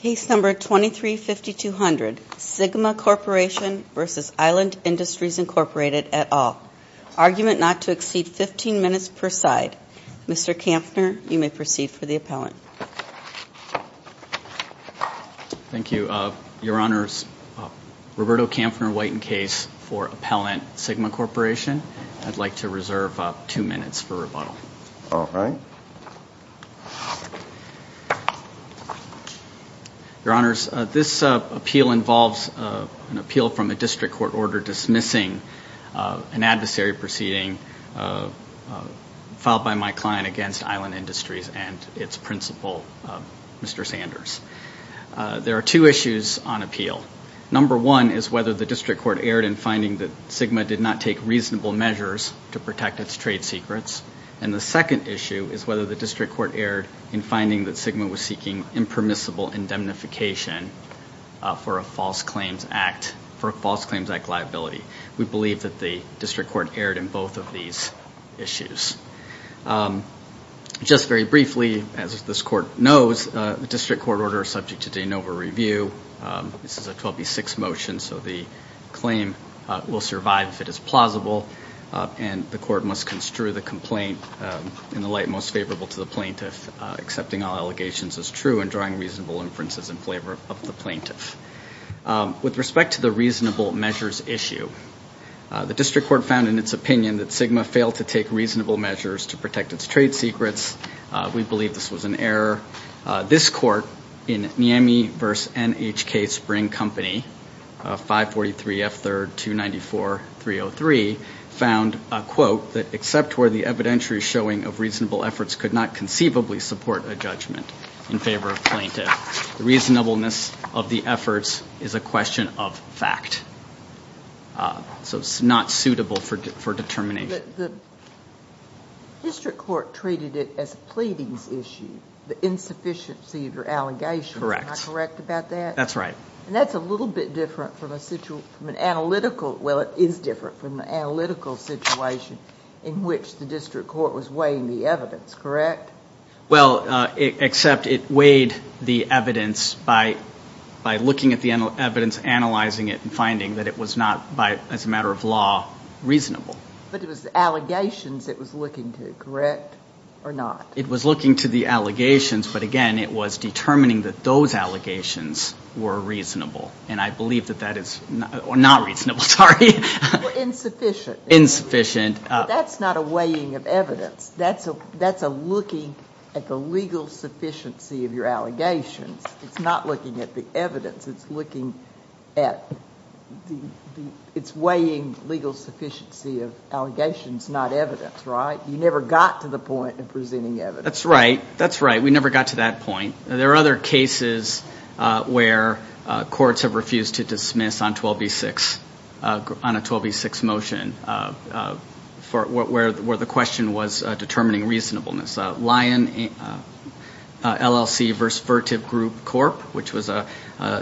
Case number 23-5200, Sigma Corporation v. Island Industries, Inc. et al. Argument not to exceed 15 minutes per side. Mr. Kampfner, you may proceed for the appellant. Thank you. Your Honors, Roberto Kampfner, White, in case for appellant, Sigma Corporation. I'd like to reserve two minutes for rebuttal. All right. Your Honors, this appeal involves an appeal from a district court order dismissing an adversary proceeding filed by my client against Island Industries and its principal, Mr. Sanders. There are two issues on appeal. Number one is whether the district court erred in finding that Sigma did not take reasonable measures to protect its trade secrets. And the second issue is whether the district court erred in finding that Sigma was seeking impermissible indemnification for a false claims act liability. We believe that the district court erred in both of these issues. Just very briefly, as this court knows, the district court order is subject to de novo review. This is a 12B6 motion, so the claim will survive if it is plausible. And the court must construe the complaint in the light most favorable to the plaintiff, accepting all allegations as true and drawing reasonable inferences in favor of the plaintiff. With respect to the reasonable measures issue, the district court found in its opinion that Sigma failed to take reasonable measures to protect its trade secrets. We believe this was an error. This court in Niemey v. NHK Spring Company, 543 F3rd 294-303, found, quote, that except where the evidentiary showing of reasonable efforts could not conceivably support a judgment in favor of plaintiff. The reasonableness of the efforts is a question of fact. So it's not suitable for determination. The district court treated it as a pleadings issue, the insufficiency of your allegations. Correct. Am I correct about that? That's right. And that's a little bit different from an analytical, well, it is different from an analytical situation in which the district court was weighing the evidence, correct? Well, except it weighed the evidence by looking at the evidence, analyzing it and finding that it was not, as a matter of law, reasonable. But it was the allegations it was looking to, correct, or not? It was looking to the allegations, but, again, it was determining that those allegations were reasonable. And I believe that that is not reasonable, sorry. Insufficient. But that's not a weighing of evidence. That's a looking at the legal sufficiency of your allegations. It's not looking at the evidence. It's weighing legal sufficiency of allegations, not evidence, right? You never got to the point of presenting evidence. That's right. That's right. We never got to that point. There are other cases where courts have refused to dismiss on 12b-6, on a 12b-6 motion, where the question was determining reasonableness. There was Lyon LLC v. Vertiv Group Corp., which was a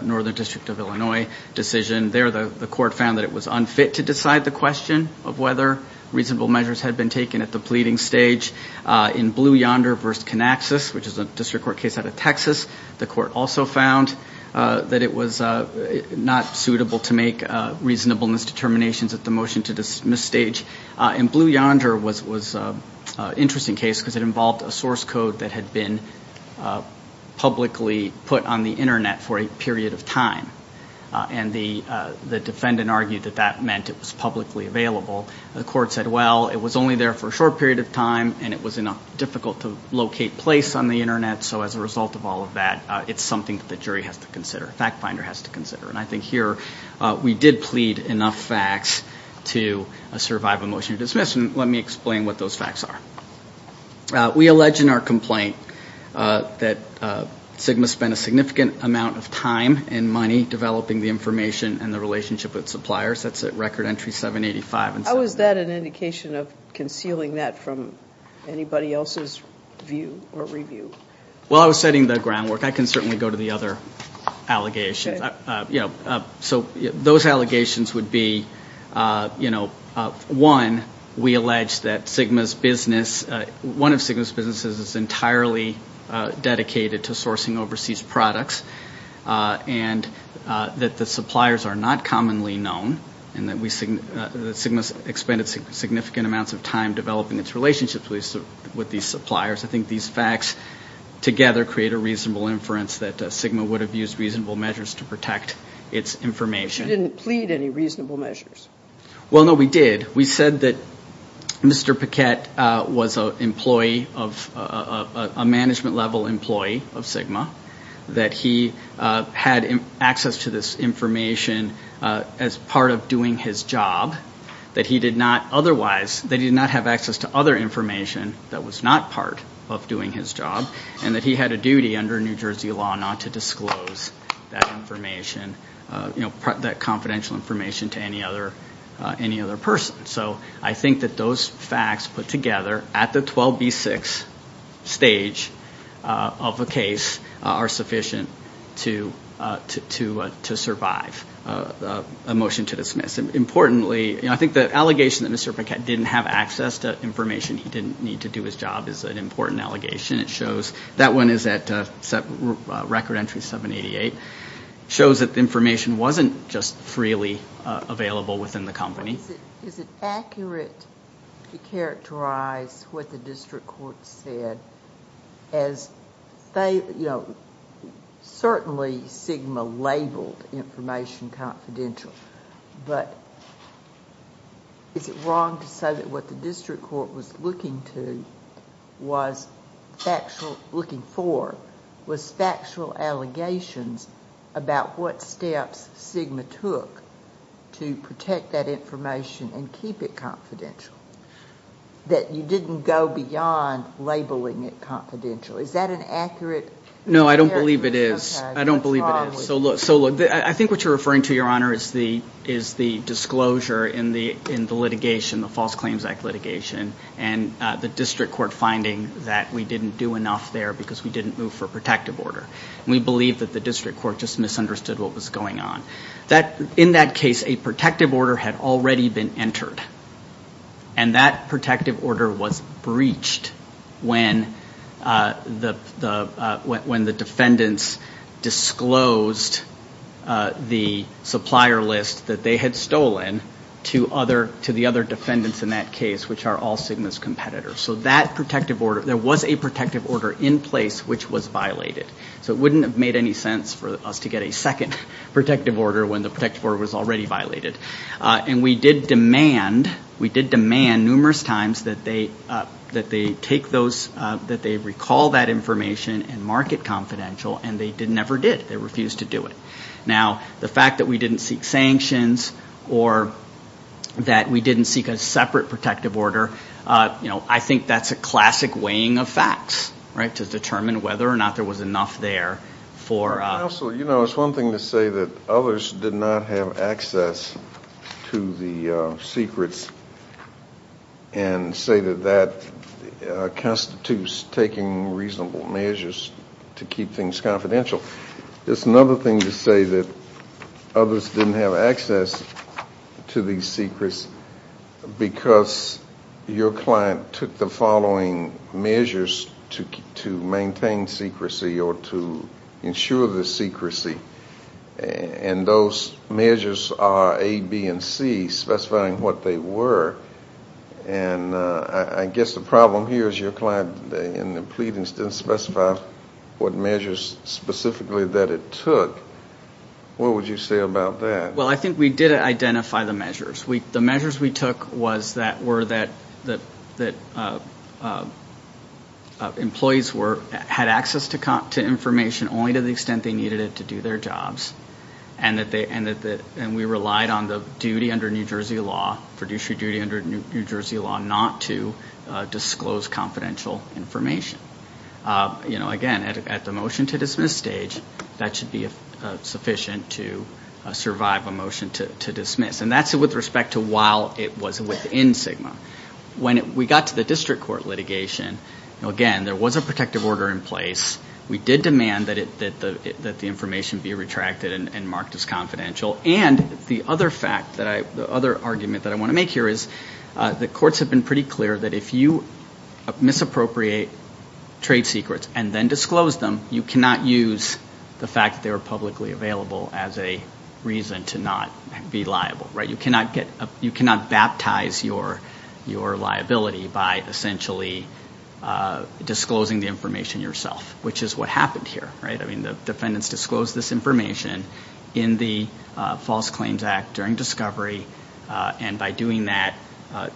northern district of Illinois decision. There the court found that it was unfit to decide the question of whether reasonable measures had been taken at the pleading stage. In Blue Yonder v. Canaxis, which is a district court case out of Texas, the court also found that it was not suitable to make reasonableness determinations at the motion-to-dismiss stage. And Blue Yonder was an interesting case because it involved a source code that had been publicly put on the Internet for a period of time. And the defendant argued that that meant it was publicly available. The court said, well, it was only there for a short period of time, and it was difficult to locate place on the Internet. So as a result of all of that, it's something that the jury has to consider, FactFinder has to consider. And I think here we did plead enough facts to survive a motion to dismiss, and let me explain what those facts are. We allege in our complaint that SGMA spent a significant amount of time and money developing the information and the relationship with suppliers. That's at Record Entry 785. How is that an indication of concealing that from anybody else's view or review? Well, I was setting the groundwork. I can certainly go to the other allegations. So those allegations would be, you know, one, we allege that SGMA's business, one of SGMA's businesses is entirely dedicated to sourcing overseas products, and that the suppliers are not commonly known, and that SGMA has expended significant amounts of time developing its relationships with these suppliers. I think these facts together create a reasonable inference that SGMA would have used reasonable measures to protect its information. But you didn't plead any reasonable measures. Well, no, we did. We said that Mr. Paquette was an employee of a management-level employee of SGMA, that he had access to this information as part of doing his job, that he did not otherwise, that he did not have access to other information that was not part of doing his job, and that he had a duty under New Jersey law not to disclose that information, you know, that confidential information to any other person. So I think that those facts put together at the 12B6 stage of a case are sufficient to survive a motion to dismiss. Importantly, you know, I think the allegation that Mr. Paquette didn't have access to information, he didn't need to do his job, is an important allegation. It shows that one is at record entry 788. It shows that the information wasn't just freely available within the company. Is it accurate to characterize what the district court said as, you know, certainly SGMA labeled information confidential, but is it wrong to say that what the district court was looking for was factual allegations about what steps SGMA took to protect that information and keep it confidential, that you didn't go beyond labeling it confidential? Is that an accurate characterization? No, I don't believe it is. I don't believe it is. So look, I think what you're referring to, Your Honor, is the disclosure in the litigation, the False Claims Act litigation, and the district court finding that we didn't do enough there because we didn't move for a protective order. We believe that the district court just misunderstood what was going on. In that case, a protective order had already been entered, and that protective order was breached when the defendants disclosed the supplier list that they had stolen to the other defendants in that case, which are all SGMA's competitors. So that protective order, there was a protective order in place which was violated. So it wouldn't have made any sense for us to get a second protective order when the protective order was already violated. And we did demand, we did demand numerous times that they take those, that they recall that information and mark it confidential, and they never did. They refused to do it. Now, the fact that we didn't seek sanctions or that we didn't seek a separate protective order, I think that's a classic weighing of facts, right, to determine whether or not there was enough there for us. Counsel, you know, it's one thing to say that others did not have access to the secrets and say that that constitutes taking reasonable measures to keep things confidential. It's another thing to say that others didn't have access to these secrets because your client took the following measures to maintain secrecy or to ensure the secrecy. And those measures are A, B, and C, specifying what they were. And I guess the problem here is your client, in the pleadings, didn't specify what measures specifically that it took. What would you say about that? Well, I think we did identify the measures. The measures we took was that were that employees had access to information only to the extent they needed it to do their jobs, and we relied on the duty under New Jersey law, fiduciary duty under New Jersey law, not to disclose confidential information. You know, again, at the motion to dismiss stage, that should be sufficient to survive a motion to dismiss. And that's with respect to while it was within SGMA. When we got to the district court litigation, again, there was a protective order in place. We did demand that the information be retracted and marked as confidential. And the other fact that I – the other argument that I want to make here is the courts have been pretty clear that if you misappropriate trade secrets and then disclose them, you cannot use the fact that they were publicly available as a reason to not be liable, right? You cannot baptize your liability by essentially disclosing the information yourself, which is what happened here, right? I mean, the defendants disclosed this information in the False Claims Act during discovery, and by doing that,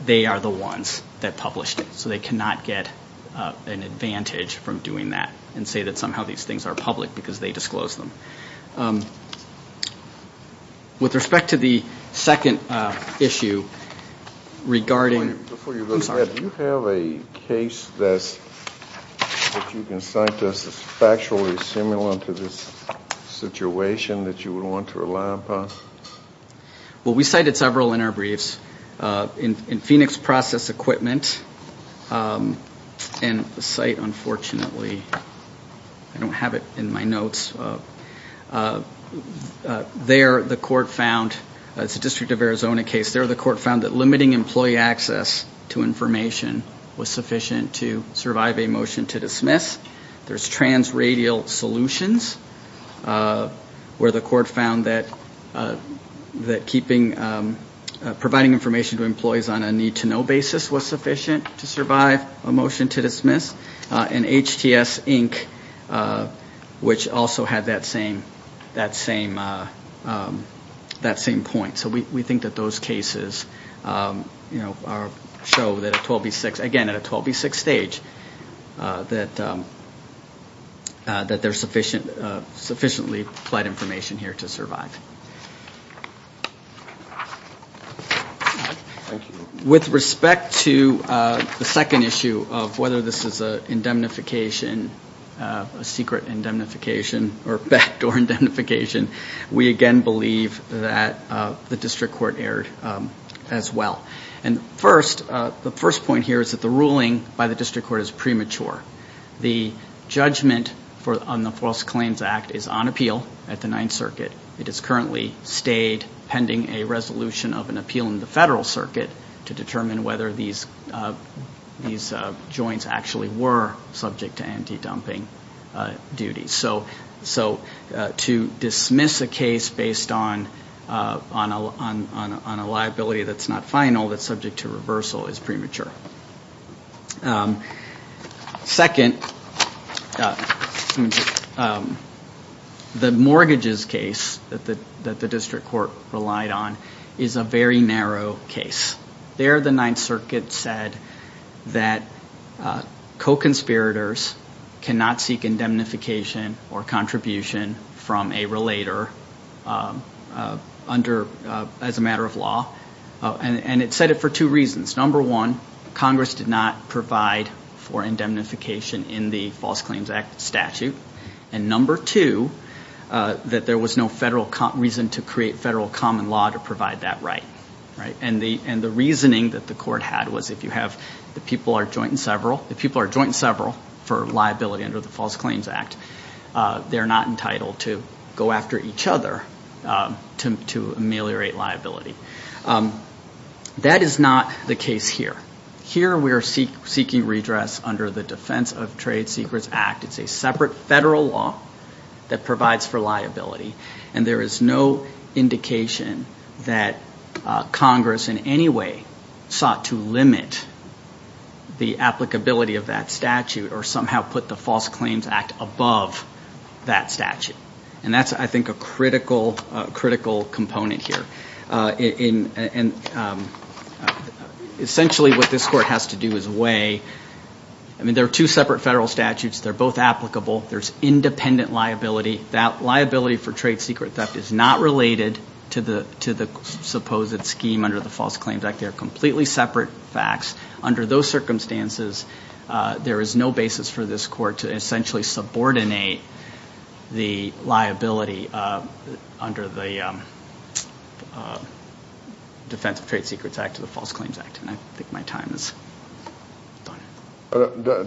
they are the ones that published it. So they cannot get an advantage from doing that and say that somehow these things are public because they disclosed them. With respect to the second issue regarding – Before you go ahead, do you have a case that you can cite that's factually similar to this situation that you would want to rely upon? Well, we cited several in our briefs. In Phoenix Process Equipment, and the site, unfortunately, I don't have it in my notes, there the court found – it's a District of Arizona case – there the court found that limiting employee access to information was sufficient to survive a motion to dismiss. There's transradial solutions, where the court found that providing information to employees on a need-to-know basis was sufficient to survive a motion to dismiss. And HTS, Inc., which also had that same point. So we think that those cases show that a 12B6 – again, at a 12B6 stage, that there's sufficiently applied information here to survive. Thank you. With respect to the second issue of whether this is an indemnification, a secret indemnification, or backdoor indemnification, we again believe that the district court erred as well. And first, the first point here is that the ruling by the district court is premature. The judgment on the False Claims Act is on appeal at the Ninth Circuit. It has currently stayed pending a resolution of an appeal in the federal circuit to determine whether these joints actually were subject to anti-dumping duties. So to dismiss a case based on a liability that's not final, that's subject to reversal, is premature. Second, the mortgages case that the district court relied on is a very narrow case. There, the Ninth Circuit said that co-conspirators cannot seek indemnification or contribution from a relator as a matter of law. And it said it for two reasons. Number one, Congress did not provide for indemnification in the False Claims Act statute. And number two, that there was no reason to create federal common law to provide that right. And the reasoning that the court had was if you have the people are joint in several, if people are joint in several for liability under the False Claims Act, they're not entitled to go after each other to ameliorate liability. That is not the case here. Here we are seeking redress under the Defense of Trade Secrets Act. It's a separate federal law that provides for liability. And there is no indication that Congress in any way sought to limit the applicability of that statute or somehow put the False Claims Act above that statute. And that's, I think, a critical component here. Essentially what this court has to do is weigh, I mean, there are two separate federal statutes. They're both applicable. There's independent liability. That liability for trade secret theft is not related to the supposed scheme under the False Claims Act. They are completely separate facts. Under those circumstances, there is no basis for this court to essentially subordinate the liability under the Defense of Trade Secrets Act to the False Claims Act. And I think my time is done.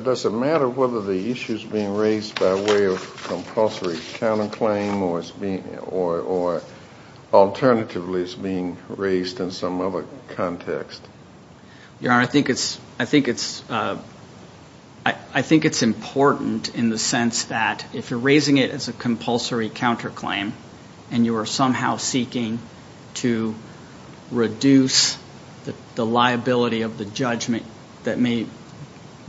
Does it matter whether the issue is being raised by way of compulsory counterclaim or alternatively it's being raised in some other context? Your Honor, I think it's important in the sense that if you're raising it as a compulsory counterclaim and you are somehow seeking to reduce the liability of the judgment that may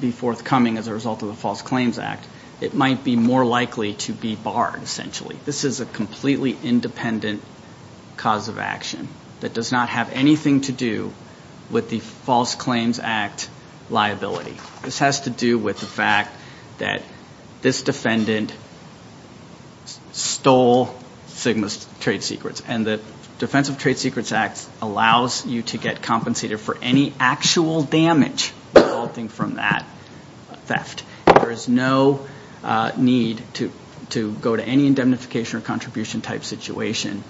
be forthcoming as a result of the False Claims Act, it might be more likely to be barred, essentially. This is a completely independent cause of action that does not have anything to do with the False Claims Act liability. This has to do with the fact that this defendant stole Sigma's trade secrets. And the Defense of Trade Secrets Act allows you to get compensated for any actual damage resulting from that theft. There is no need to go to any indemnification or contribution-type situation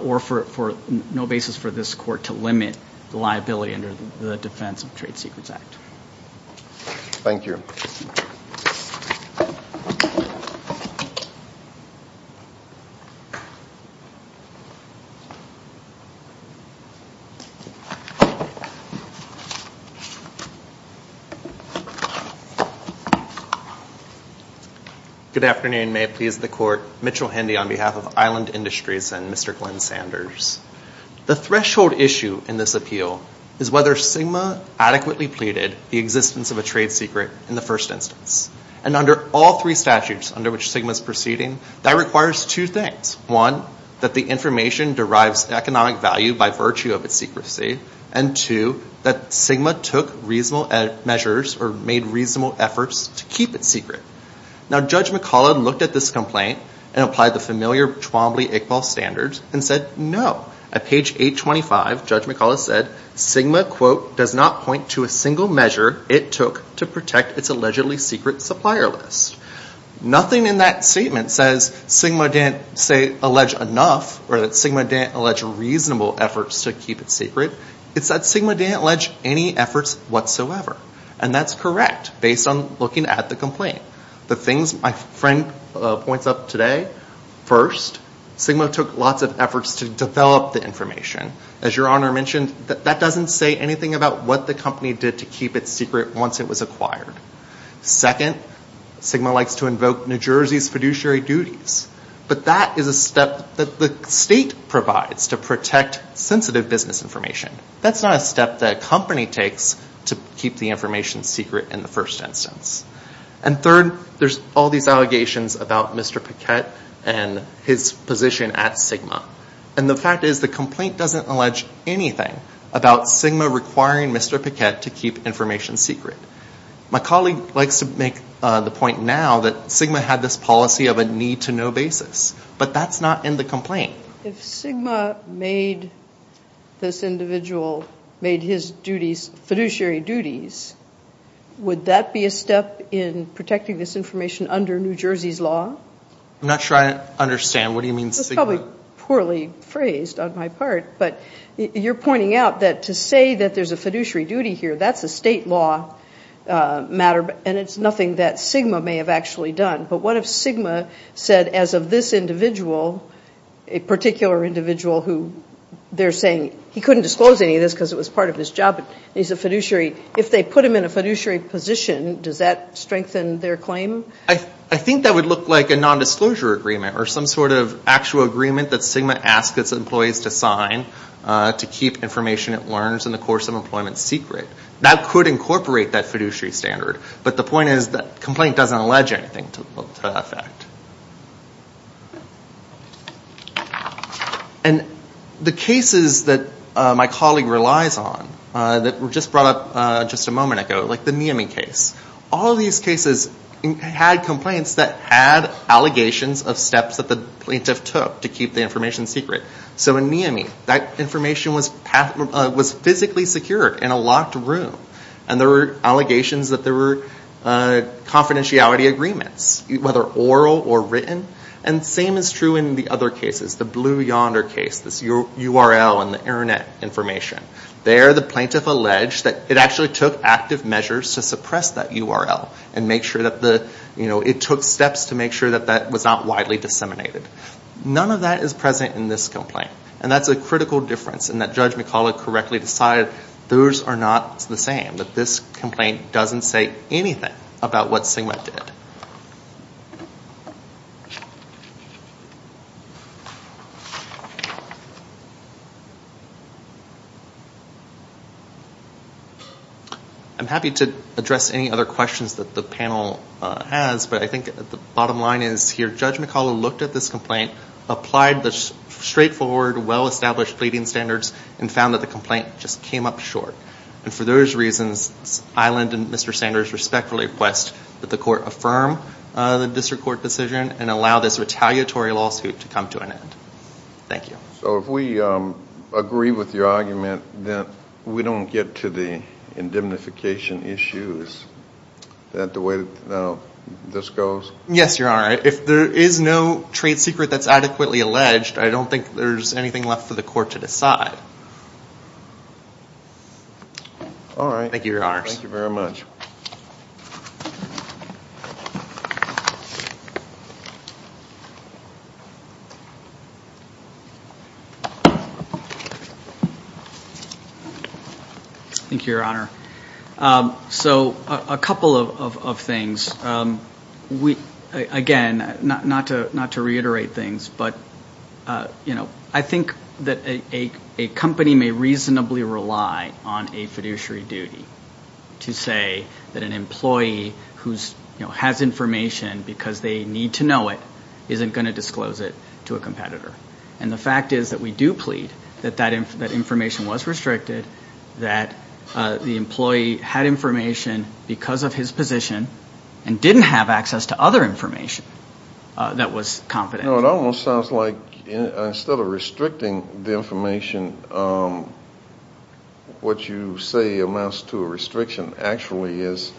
or for no basis for this Court to limit the liability under the Defense of Trade Secrets Act. Thank you. Good afternoon. May it please the Court. Mitchell Hendy on behalf of Island Industries and Mr. Glenn Sanders. The threshold issue in this appeal is whether Sigma adequately pleaded the existence of a trade secret in the first instance. And under all three statutes under which Sigma is proceeding, that requires two things. One, that the information derives economic value by virtue of its secrecy. And two, that Sigma took reasonable measures or made reasonable efforts to keep it secret. Now Judge McCullough looked at this complaint and applied the familiar Twombly-Iqbal standards and said, no. At page 825, Judge McCullough said, Sigma, quote, does not point to a single measure it took to protect its allegedly secret supplier list. Nothing in that statement says Sigma didn't, say, allege enough or that Sigma didn't allege reasonable efforts to keep it secret. It's that Sigma didn't allege any efforts whatsoever. And that's correct, based on looking at the complaint. The things my friend points up today, first, Sigma took lots of efforts to develop the information. As your Honor mentioned, that doesn't say anything about what the company did to keep it secret once it was acquired. Second, Sigma likes to invoke New Jersey's fiduciary duties. But that is a step that the state provides to protect sensitive business information. That's not a step that a company takes to keep the information secret in the first instance. And third, there's all these allegations about Mr. Paquette and his position at Sigma. And the fact is, the complaint doesn't allege anything about Sigma requiring Mr. Paquette to keep information secret. My colleague likes to make the point now that Sigma had this policy of a need-to-know basis. But that's not in the complaint. If Sigma made this individual, made his fiduciary duties, would that be a step in protecting this information under New Jersey's law? I'm not sure I understand. What do you mean, Sigma? It's probably poorly phrased on my part, but you're pointing out that to say that there's a fiduciary duty here, that's a state law matter, and it's nothing that Sigma may have actually done. But what if Sigma said, as of this individual, a particular individual who they're saying he couldn't disclose any of this because it was part of his job, but he's a fiduciary, if they put him in a fiduciary position, does that strengthen their claim? I think that would look like a nondisclosure agreement, or some sort of actual agreement that Sigma asks its employees to sign, to keep information it learns in the course of employment secret. That could incorporate that fiduciary standard, but the point is, the complaint doesn't allege anything to that effect. And the cases that my colleague relies on, that were just brought up just a moment ago, like the Miami case, all these cases had complaints that had allegations of steps that the plaintiff took to keep the information secret. So in Miami, that information was physically secured in a locked room, and there were allegations that there were confidentiality agreements, whether oral or written, and the same is true in the other cases, the Blue Yonder case, this URL and the internet information. There the plaintiff alleged that it actually took active measures to suppress that URL, and it took steps to make sure that that was not widely disseminated. None of that is present in this complaint, and that's a critical difference, and that Judge McCullough correctly decided those are not the same, that this complaint doesn't say anything about what Sigma did. I'm happy to address any other questions that the panel has, but I think the bottom line is here, Judge McCullough looked at this complaint, applied the straightforward, well-established pleading standards, and found that the complaint just came up short. And for those reasons, Island and Mr. Sanders respectfully request that the court affirm the district court decision and allow this retaliatory lawsuit to come to an end. Thank you. So if we agree with your argument, then we don't get to the indemnification issues, is that the way this goes? Yes, Your Honor. If there is no trade secret that's adequately alleged, I don't think there's anything left for the court to decide. All right. Thank you, Your Honor. Thank you very much. Thank you, Your Honor. So a couple of things. Again, not to reiterate things, but, you know, I think that a court's decision, a company may reasonably rely on a fiduciary duty to say that an employee who has information because they need to know it isn't going to disclose it to a competitor. And the fact is that we do plead that that information was restricted, that the employee had information because of his position, and didn't have access to other information that was confidential. You know, it almost sounds like instead of restricting the information, what you say amounts to a restriction actually is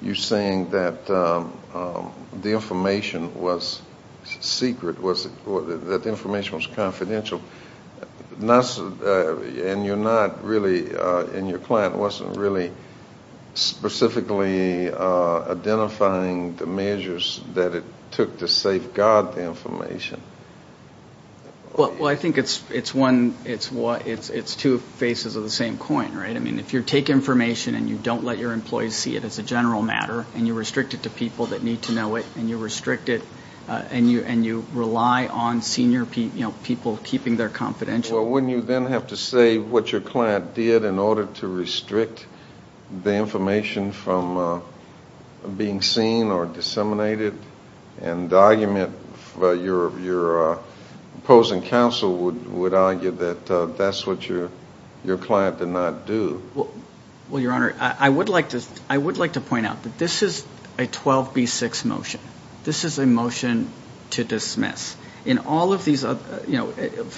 you're saying that the information was secret, that the information was confidential, and your client wasn't really specifically identifying the measures that it took to safeguard the information. Well, I think it's two faces of the same coin, right? I mean, if you take information and you don't let your employees see it as a general matter and you restrict it to people that need to know it and you restrict it and you rely on senior people keeping their confidentiality. Well, wouldn't you then have to say what your client did in order to restrict the information from being seen or disseminated and the argument your opposing counsel would argue that that's what your client did not do? Well, Your Honor, I would like to point out that this is a 12B6 motion. This is a motion to dismiss. For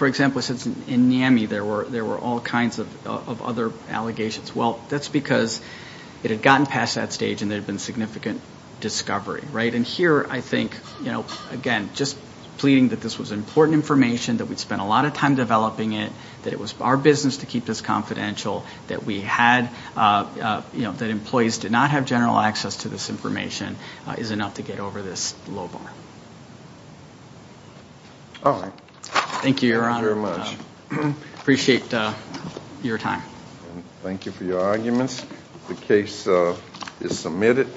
example, in NAMI there were all kinds of other allegations. Well, that's because it had gotten past that stage and there had been significant discovery, right? And here I think, you know, again, just pleading that this was important information, that we'd spent a lot of time developing it, that it was our business to keep this confidential, that we had, you know, that employees did not have general access to this information is enough to get over this low bar. All right. Thank you, Your Honor. Appreciate your time. Thank you for your arguments. The case is submitted.